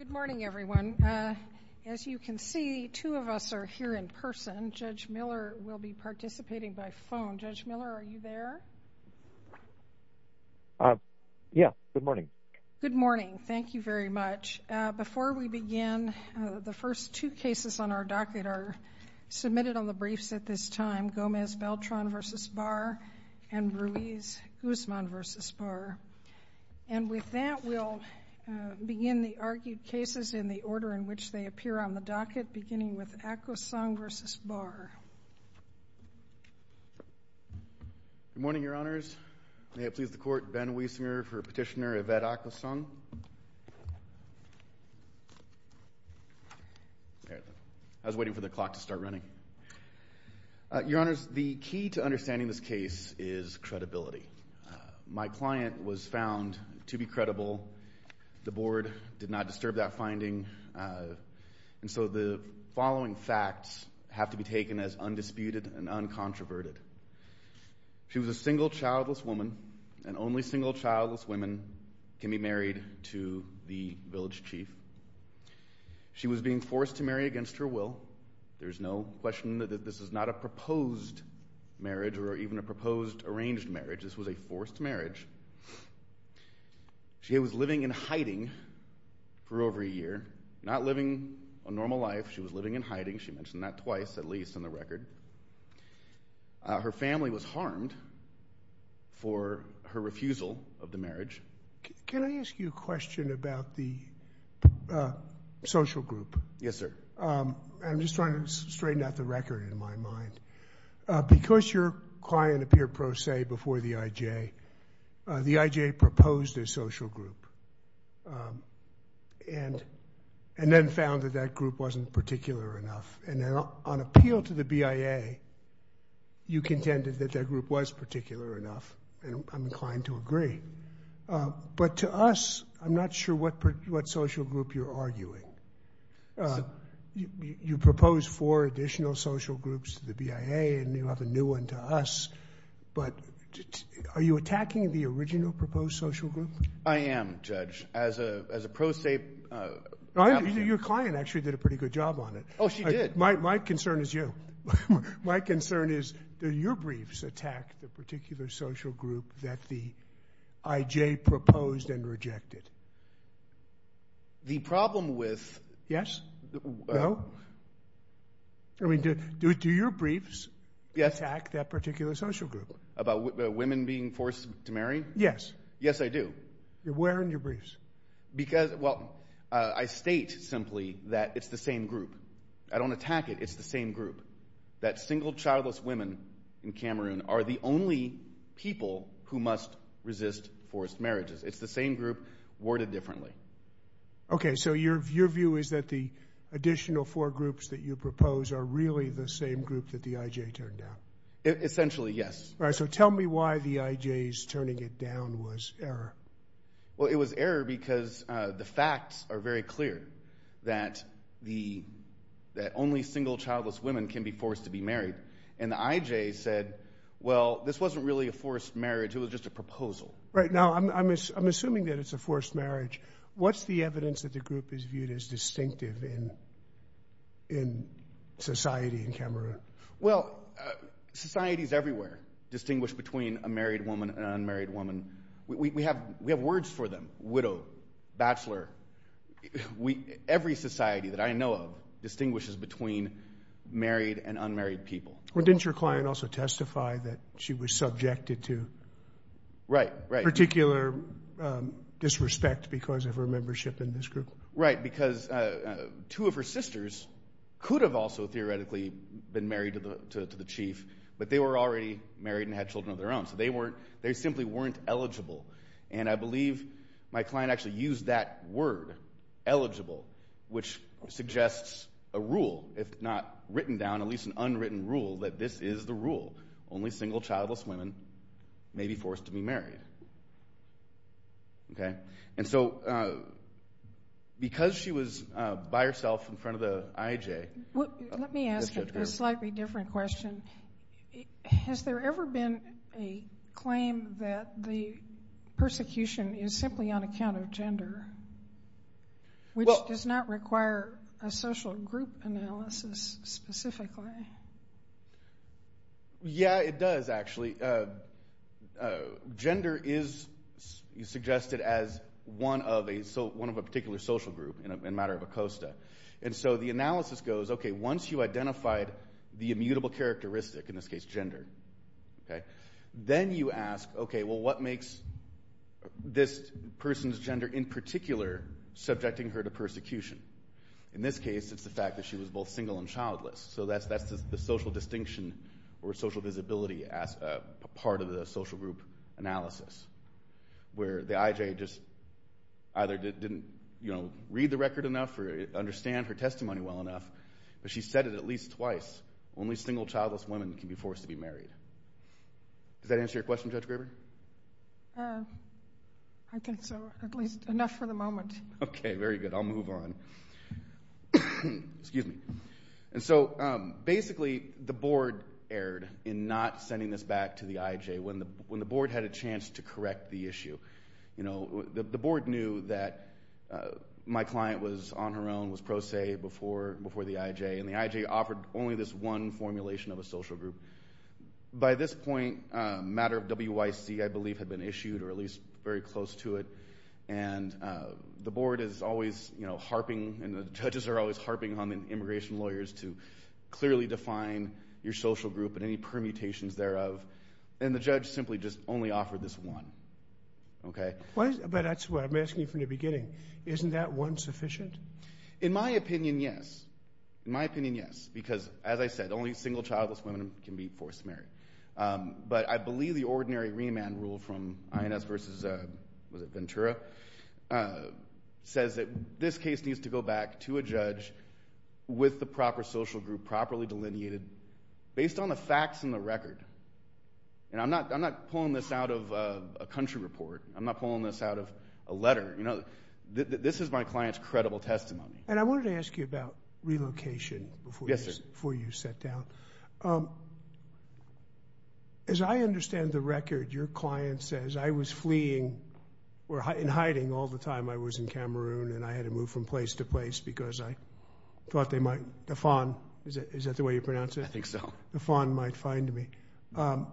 Good morning, everyone. As you can see, two of us are here in person. Judge Miller will be participating by phone. Judge Miller, are you there? Yeah, good morning. Good morning. Thank you very much. Before we begin, the first two cases on our docket are submitted on the briefs at this And with that, we'll begin the argued cases in the order in which they appear on the docket, beginning with Akosung v. Barr. Good morning, Your Honors. May it please the Court, Ben Wiesner for Petitioner Yvette Akosung. I was waiting for the clock to start running. Your Honors, the key to understanding this case is credibility. My client was found to be credible. The Board did not disturb that finding. And so the following facts have to be taken as undisputed and uncontroverted. She was a single, childless woman. And only single, childless women can be married to the village chief. She was being forced to marry against her will. There's no question that this is not a proposed marriage or even a proposed arranged marriage. This was a forced marriage. She was living in hiding for over a year. Not living a normal life. She was living in hiding. She mentioned that twice, at least, on the record. Her family was harmed for her refusal of the marriage. Can I ask you a question about the social group? Yes, sir. I'm just trying to straighten out the record in my mind. Because your client appeared pro se before the IJ, the IJ proposed a social group. And then found that that group wasn't particular enough. And on appeal to the BIA, you contended that that group was particular enough. And I'm inclined to agree. But to us, I'm not sure what social group you're arguing. You proposed four additional social groups to the BIA. And you have a new one to us. But are you attacking the original proposed social group? I am, Judge. As a pro se. Your client actually did a pretty good job on it. Oh, she did. My concern is you. My concern is do your briefs attack the particular social group that the IJ proposed and rejected? The problem with- Yes? No? I mean, do your briefs attack that particular social group? About women being forced to marry? Yes. Yes, I do. Where in your briefs? Because, well, I state simply that it's the same group. I don't attack it. It's the same group. That single, childless women in Cameroon are the only people who must resist forced marriages. It's the same group worded differently. Okay. So your view is that the additional four groups that you propose are really the same group that the IJ turned down? Essentially, yes. All right. So tell me why the IJ's turning it down was error. Well, it was error because the facts are very clear that only single, childless women can be forced to be married. And the IJ said, well, this wasn't really a forced marriage. It was just a proposal. Right. Now, I'm assuming that it's a forced marriage. What's the evidence that the group is viewed as distinctive in society in Cameroon? Well, societies everywhere distinguish between a married woman and an unmarried woman. We have words for them. Widow. Bachelor. Every society that I know of distinguishes between married and unmarried people. Well, didn't your client also testify that she was subjected to? Right, right. Particular disrespect because of her membership in this group? Right, because two of her sisters could have also theoretically been married to the chief, but they were already married and had children of their own. So they simply weren't eligible. And I believe my client actually used that word, eligible, which suggests a rule, if not written down, at least an unwritten rule, that this is the rule. Only single, childless women may be forced to be married. Okay? And so, because she was by herself in front of the IJ. Let me ask a slightly different question. Has there ever been a claim that the persecution is simply on account of gender, which does not require a social group analysis specifically? Yeah, it does, actually. Gender is suggested as one of a particular social group in a matter of a costa. And so the analysis goes, okay, once you identified the immutable characteristic, in this case gender, then you ask, okay, well, what makes this person's gender in particular subjecting her to persecution? In this case, it's the fact that she was both single and childless. So that's the social distinction or social visibility as a part of the social group analysis, where the IJ just either didn't read the record enough or understand her testimony well enough, but she said it at least twice, only single, childless women can be forced to be married. Does that answer your question, Judge Graber? I think so, at least enough for the moment. Okay, very good. I'll move on. Excuse me. And so, basically, the board erred in not sending this back to the IJ when the board had a chance to correct the issue. The board knew that my client was on her own, was pro se before the IJ, and the IJ offered only this one formulation of a social group. By this point, a matter of WYC, I believe, had been issued, or at least very close to it. And the board is always harping, and the judges are always harping on immigration lawyers to clearly define your social group and any permutations thereof, and the judge simply just only offered this one. But that's what I'm asking you from the beginning. Isn't that one sufficient? In my opinion, yes. In my opinion, yes. Because, as I said, only single, childless women can be forced to marry. But I believe the ordinary remand rule from INS versus Ventura says that this case needs to go back to a judge with the proper social group, properly delineated, based on the facts and the record. And I'm not pulling this out of a country report. I'm not pulling this out of a letter. This is my client's credible testimony. And I wanted to ask you about relocation before you sat down. As I understand the record, your client says, I was fleeing, or in hiding, all the time I was in Cameroon, and I had to move from place to place because I thought they might, Defon, is that the way you pronounce it? I think so. Defon might find me. I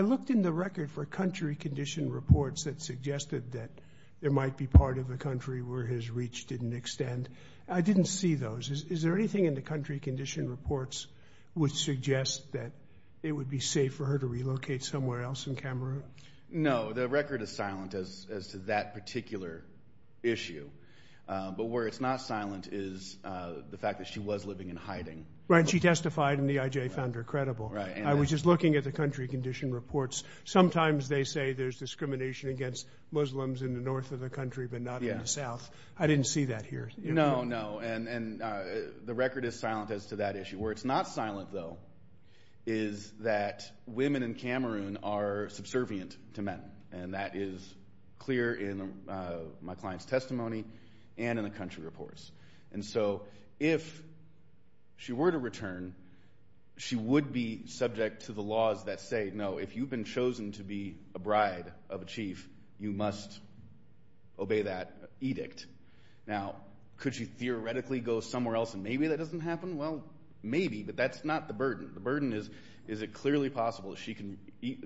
looked in the record for country condition reports that suggested that there might be part of a country where his reach didn't extend. I didn't see those. Is there anything in the country condition reports which suggest that it would be safe for her to relocate somewhere else in Cameroon? No. The record is silent as to that particular issue. But where it's not silent is the fact that she was living in hiding. Right, and she testified, and the EIJ found her credible. I was just looking at the country condition reports. Sometimes they say there's discrimination against Muslims in the north of the country, but not in the south. I didn't see that here. No, no, and the record is silent as to that issue. Where it's not silent, though, is that women in Cameroon are subservient to men, and that is clear in my client's testimony and in the country reports. And so if she were to return, she would be subject to the laws that say, no, if you've been chosen to be a bride of a chief, you must obey that edict. Now, could she theoretically go somewhere else and maybe that doesn't happen? Well, maybe, but that's not the burden. The burden is, is it clearly possible that she can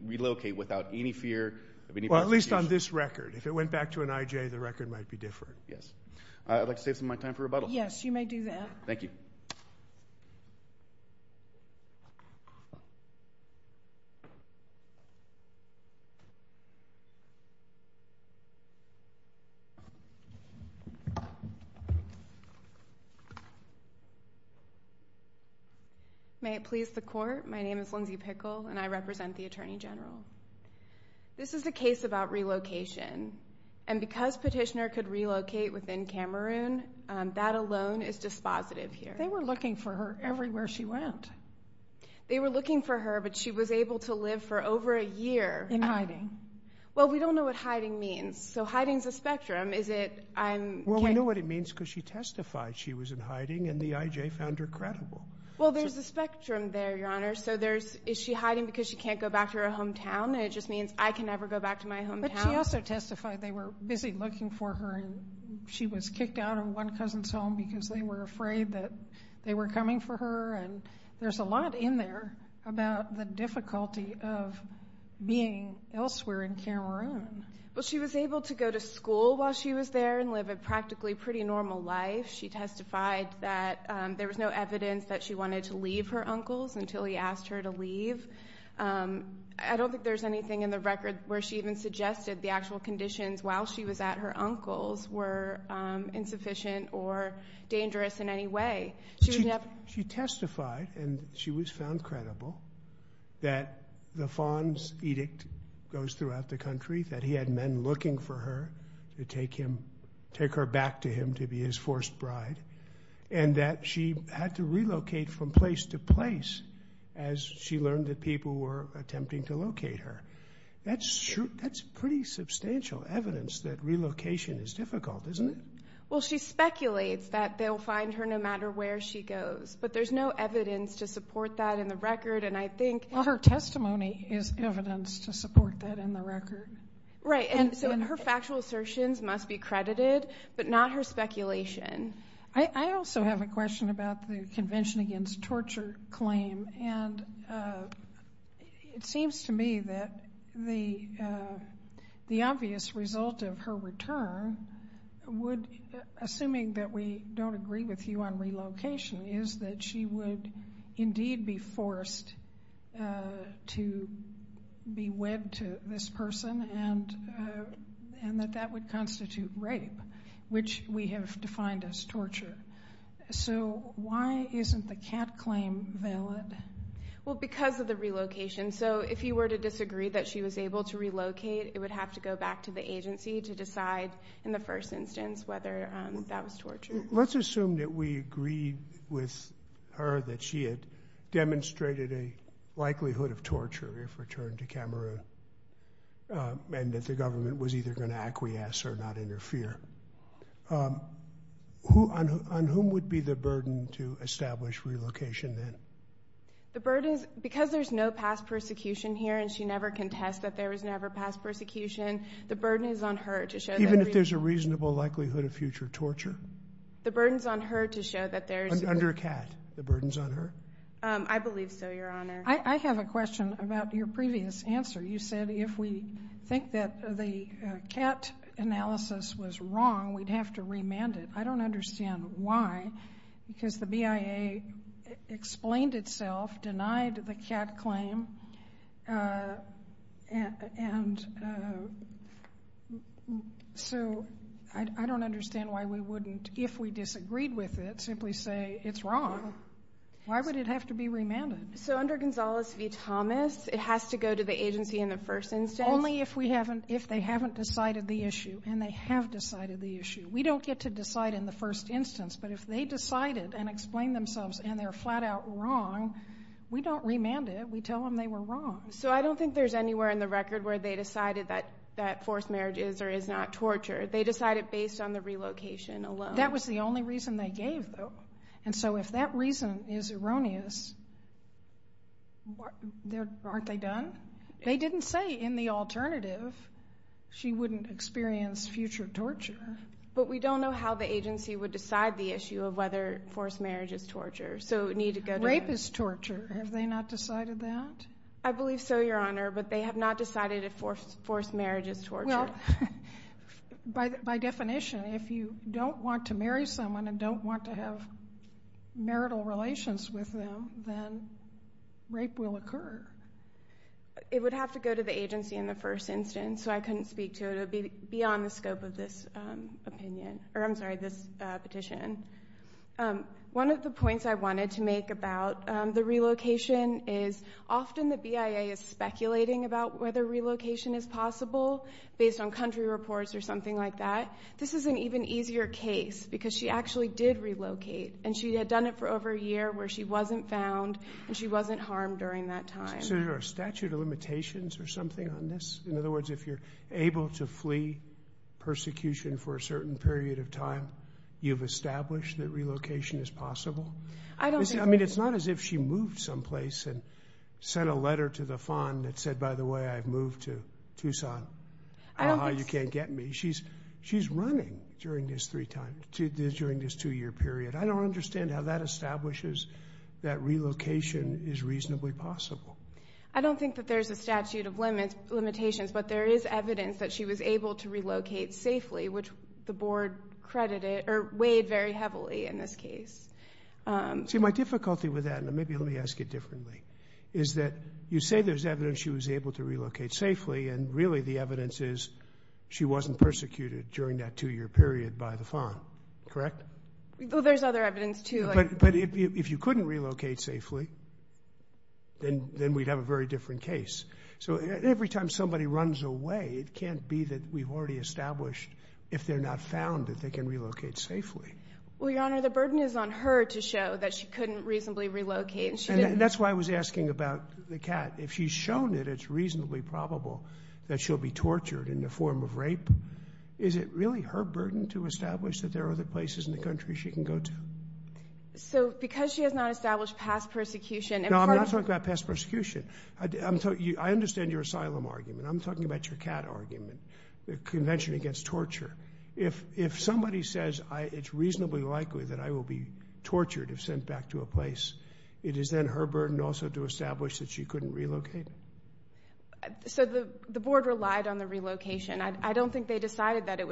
relocate without any fear of any prosecution? Well, at least on this record. If it went back to an EIJ, the record might be different. Yes. I'd like to save some of my time for rebuttal. Yes, you may do that. Thank you. May it please the Court, my name is Lindsay Pickle, and I represent the Attorney General. This is a case about relocation, and because Petitioner could relocate within Cameroon, that alone is dispositive here. They were looking for her everywhere she went. They were looking for her, but she was able to live for over a year. In hiding. Well, we don't know what hiding means. So hiding's a spectrum. Is it, I'm... Well, we know what it means because she testified she was in hiding, and the EIJ found her credible. Well, there's a spectrum there, Your Honor. So there's, is she hiding because she can't go back to her hometown? It just means I can never go back to my hometown. But she also testified they were busy looking for her, and she was kicked out of one cousin's home because they were afraid that they were coming for her, and there's a lot in there about the difficulty of being elsewhere in Cameroon. Well, she was able to go to school while she was there and live a practically pretty normal life. She testified that there was no evidence that she wanted to leave her uncles until he asked her to leave. I don't think there's anything in the record where she even suggested the actual conditions while she was at her uncles were insufficient or dangerous in any way. She testified, and she was found credible, that the Fonz edict goes throughout the country, that he had men looking for her to take him, take her back to him to be his forced bride, and that she had to relocate from place to place as she learned that people were attempting to locate her. That's pretty substantial evidence that relocation is difficult, isn't it? Well, she speculates that they'll find her no matter where she goes, but there's no evidence to support that in the record, and I think... Well, her testimony is evidence to support that in the record. Right, and so her factual assertions must be credited, but not her speculation. I also have a question about the Convention Against Torture claim, and it seems to me that the obvious result of her return would, assuming that we don't agree with you on relocation, is that she would indeed be forced to be wed to this person, and that that would constitute rape, which we have defined as torture. So why isn't the cat claim valid? Well, because of the relocation. So if you were to disagree that she was able to relocate, it would have to go back to the agency to decide in the first instance whether that was torture. Let's assume that we agree with her that she had demonstrated a likelihood of torture if returned to Cameroon, and that the government was either going to acquiesce or not interfere. On whom would be the burden to establish relocation then? Because there's no past persecution here, and she never contests that there was never past persecution, the burden is on her to show that... Even if there's a reasonable likelihood of future torture? The burden's on her to show that there's... Under a cat, the burden's on her? I believe so, Your Honor. I have a question about your previous answer. You said if we think that the cat analysis was wrong, we'd have to remand it. I don't understand why, because the BIA explained itself, denied the cat claim, and so I don't understand why we wouldn't, if we disagreed with it, simply say it's wrong. Why would it have to be remanded? So under Gonzales v. Thomas, it has to go to the agency in the first instance? Only if they haven't decided the issue, and they have decided the issue. We don't get to decide in the first instance, but if they decided and explained themselves and they're flat out wrong, we don't remand it. We tell them they were wrong. So I don't think there's anywhere in the record where they decided that forced marriage is or is not torture. They decided based on the relocation alone. That was the only reason they gave, though. And so if that reason is erroneous, aren't they done? They didn't say in the alternative she wouldn't experience future torture. But we don't know how the agency would decide the issue of whether forced marriage is torture, so it would need to go to the agency. Rape is torture. Have they not decided that? I believe so, Your Honor, but they have not decided if forced marriage is torture. Well, by definition, if you don't want to marry someone and don't want to have marital relations with them, then rape will occur. It would have to go to the agency in the first instance, so I couldn't speak to it. It would be beyond the scope of this petition. One of the points I wanted to make about the relocation is often the BIA is speculating about whether relocation is possible based on country reports or something like that. This is an even easier case because she actually did relocate and she had done it for over a year where she wasn't found and she wasn't harmed during that time. So is there a statute of limitations or something on this? In other words, if you're able to flee persecution for a certain period of time, you've established that relocation is possible? I mean, it's not as if she moved someplace and sent a letter to the fund that said, by the way, I've moved to Tucson. You can't get me. She's running during this two-year period. I don't understand how that establishes that relocation is reasonably possible. I don't think that there's a statute of limitations, but there is evidence that she was able to relocate safely, which the board credited or weighed very heavily in this case. See, my difficulty with that, and maybe let me ask it differently, is that you say there's evidence she was able to relocate safely, and really the evidence is she wasn't persecuted during that two-year period by the fund, correct? Well, there's other evidence, too. But if you couldn't relocate safely, then we'd have a very different case. So every time somebody runs away, it can't be that we've already established, if they're not found, that they can relocate safely. Well, Your Honor, the burden is on her to show that she couldn't reasonably relocate. And that's why I was asking about the cat. If she's shown that it's reasonably probable that she'll be tortured in the form of rape, is it really her burden to establish that there are other places in the country she can go to? So, because she has not established past persecution... No, I'm not talking about past persecution. I understand your asylum argument. I'm talking about your cat argument, the Convention Against Torture. If somebody says it's reasonably likely that I will be tortured if sent back to a place, it is then her burden also to establish that she couldn't relocate? So the Board relied on the relocation. I don't think they decided that it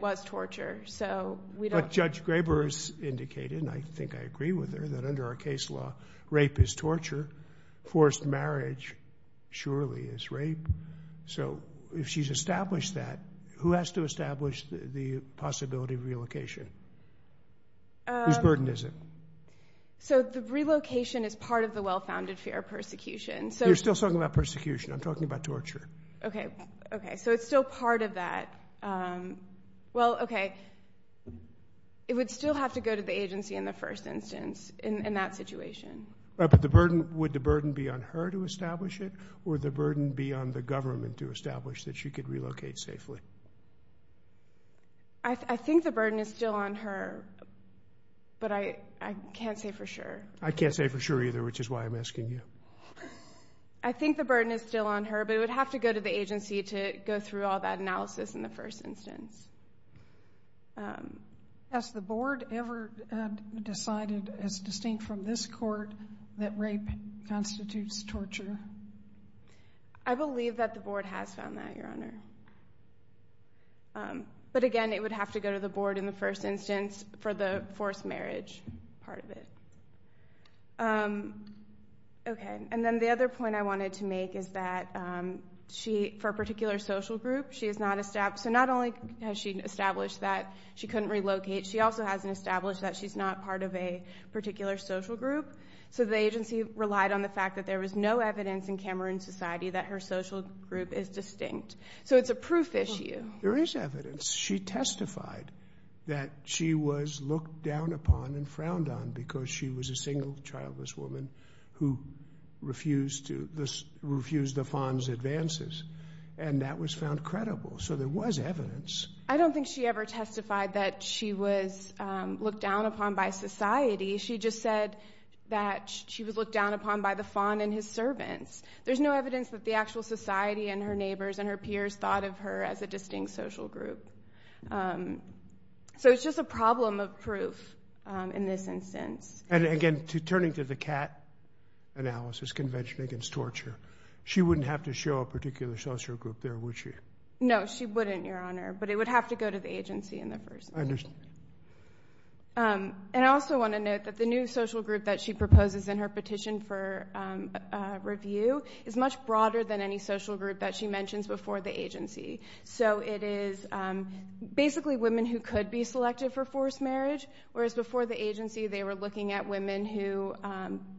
was torture, so we don't... But Judge Graber has indicated, and I think I agree with her, that under our case law, rape is torture. Forced marriage surely is rape. So if she's established that, who has to establish the possibility of relocation? Whose burden is it? So the relocation is part of the well-founded fear of persecution. You're still talking about persecution. I'm talking about torture. Okay, so it's still part of that. Well, okay. It would still have to go to the agency in the first instance, in that situation. But would the burden be on her to establish it, or would the burden be on the government to establish that she could relocate safely? I think the burden is still on her, but I can't say for sure. I can't say for sure either, which is why I'm asking you. I think the burden is still on her, but it would have to go to the agency to go through all that analysis in the first instance. Has the Board ever decided, as distinct from this Court, that rape constitutes torture? I believe that the Board has found that, Your Honor. But again, it would have to go to the Board in the first instance for the forced marriage part of it. Okay. And then the other point I wanted to make is that, for a particular social group, she is not established. So not only has she established that she couldn't relocate, she also hasn't established that she's not part of a particular social group. So the agency relied on the fact that there was no evidence in Cameroon society that her social group is distinct. So it's a proof issue. There is evidence. She testified that she was looked down upon and frowned on because she was a single, childless woman who refused the faun's advances. And that was found credible. So there was evidence. I don't think she ever testified that she was looked down upon by society. She just said that she was looked down upon by the faun and his servants. There's no evidence that the actual society and her neighbors and her peers thought of her as a distinct social group. So it's just a problem of proof in this instance. And again, turning to the CAT analysis convention against torture, she wouldn't have to show a particular social group there, would she? No, she wouldn't, Your Honor. But it would have to go to the agency in the first place. I understand. And I also want to note that the new social group that she proposes in her petition for review is much broader than any social group that she mentions before the agency. So it is basically women who could be selected for forced marriage, whereas before the agency they were looking at women who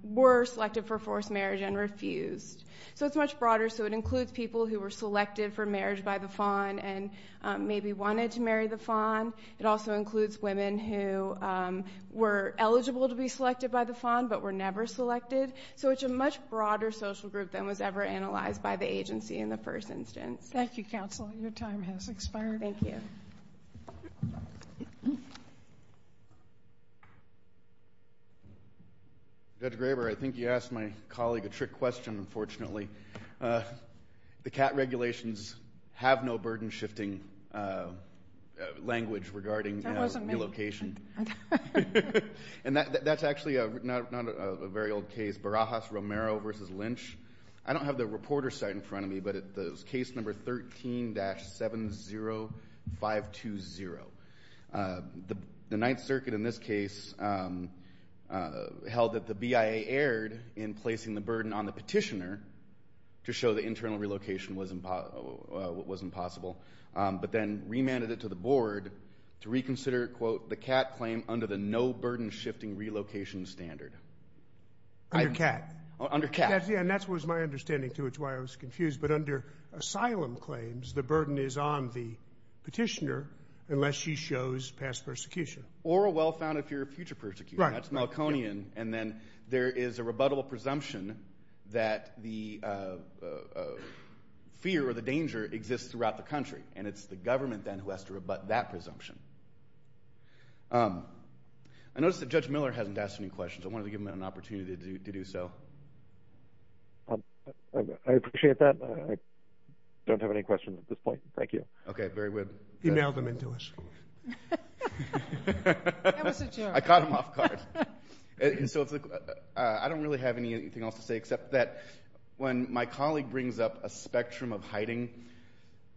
were selected for forced marriage and refused. So it's much broader. So it includes people who were selected for marriage by the faun and maybe wanted to marry the faun. It also includes women who were eligible to be selected by the faun, but were never selected. So it's a much broader social group than was ever analyzed by the agency in the first instance. Thank you, counsel. Your time has expired. Thank you. Judge Graber, I think you asked my colleague a trick question, unfortunately. The CAT regulations have no burden-shifting language regarding relocation. That wasn't me. And that's actually not a very old case, Barajas-Romero v. Lynch. I don't have the reporter's site in front of me, but it's case number 13-70520. The Ninth Circuit in this case held that the BIA erred in placing the burden on the petitioner to show the internal relocation was impossible, but then remanded it to the board to reconsider, quote, the CAT claim under the no burden-shifting relocation standard. Under CAT? Under CAT. Yeah, and that was my understanding, too. It's why I was confused. But under asylum claims, the burden is on the petitioner unless she shows past persecution. Or a well-founded fear of future persecution. That's Malconian. And then there is a rebuttable presumption that the fear or the danger exists throughout the country. And it's the government, then, who has to rebut that presumption. I notice that Judge Miller hasn't asked any questions. I wanted to give him an opportunity to do so. I appreciate that. I don't have any questions at this point. Thank you. Okay, very good. Email them into us. That was a joke. I caught him off guard. I don't really have anything else to say except that when my colleague brings up a spectrum of hiding,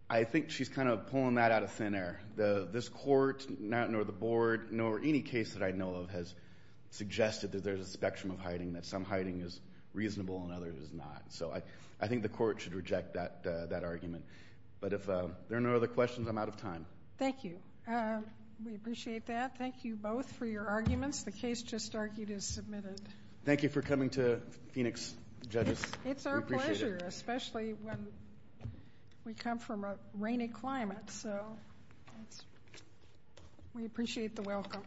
I think she's kind of pulling that out of thin air. This court, nor the board, nor any case that I know of has suggested that there's a spectrum of hiding, that some hiding is reasonable and others is not. So I think the court should reject that argument. But if there are no other questions, I'm out of time. Thank you. We appreciate that. Thank you both for your arguments. The case just argued is submitted. Thank you for coming to Phoenix, judges. It's our pleasure, especially when we come from a rainy climate. We appreciate the welcome.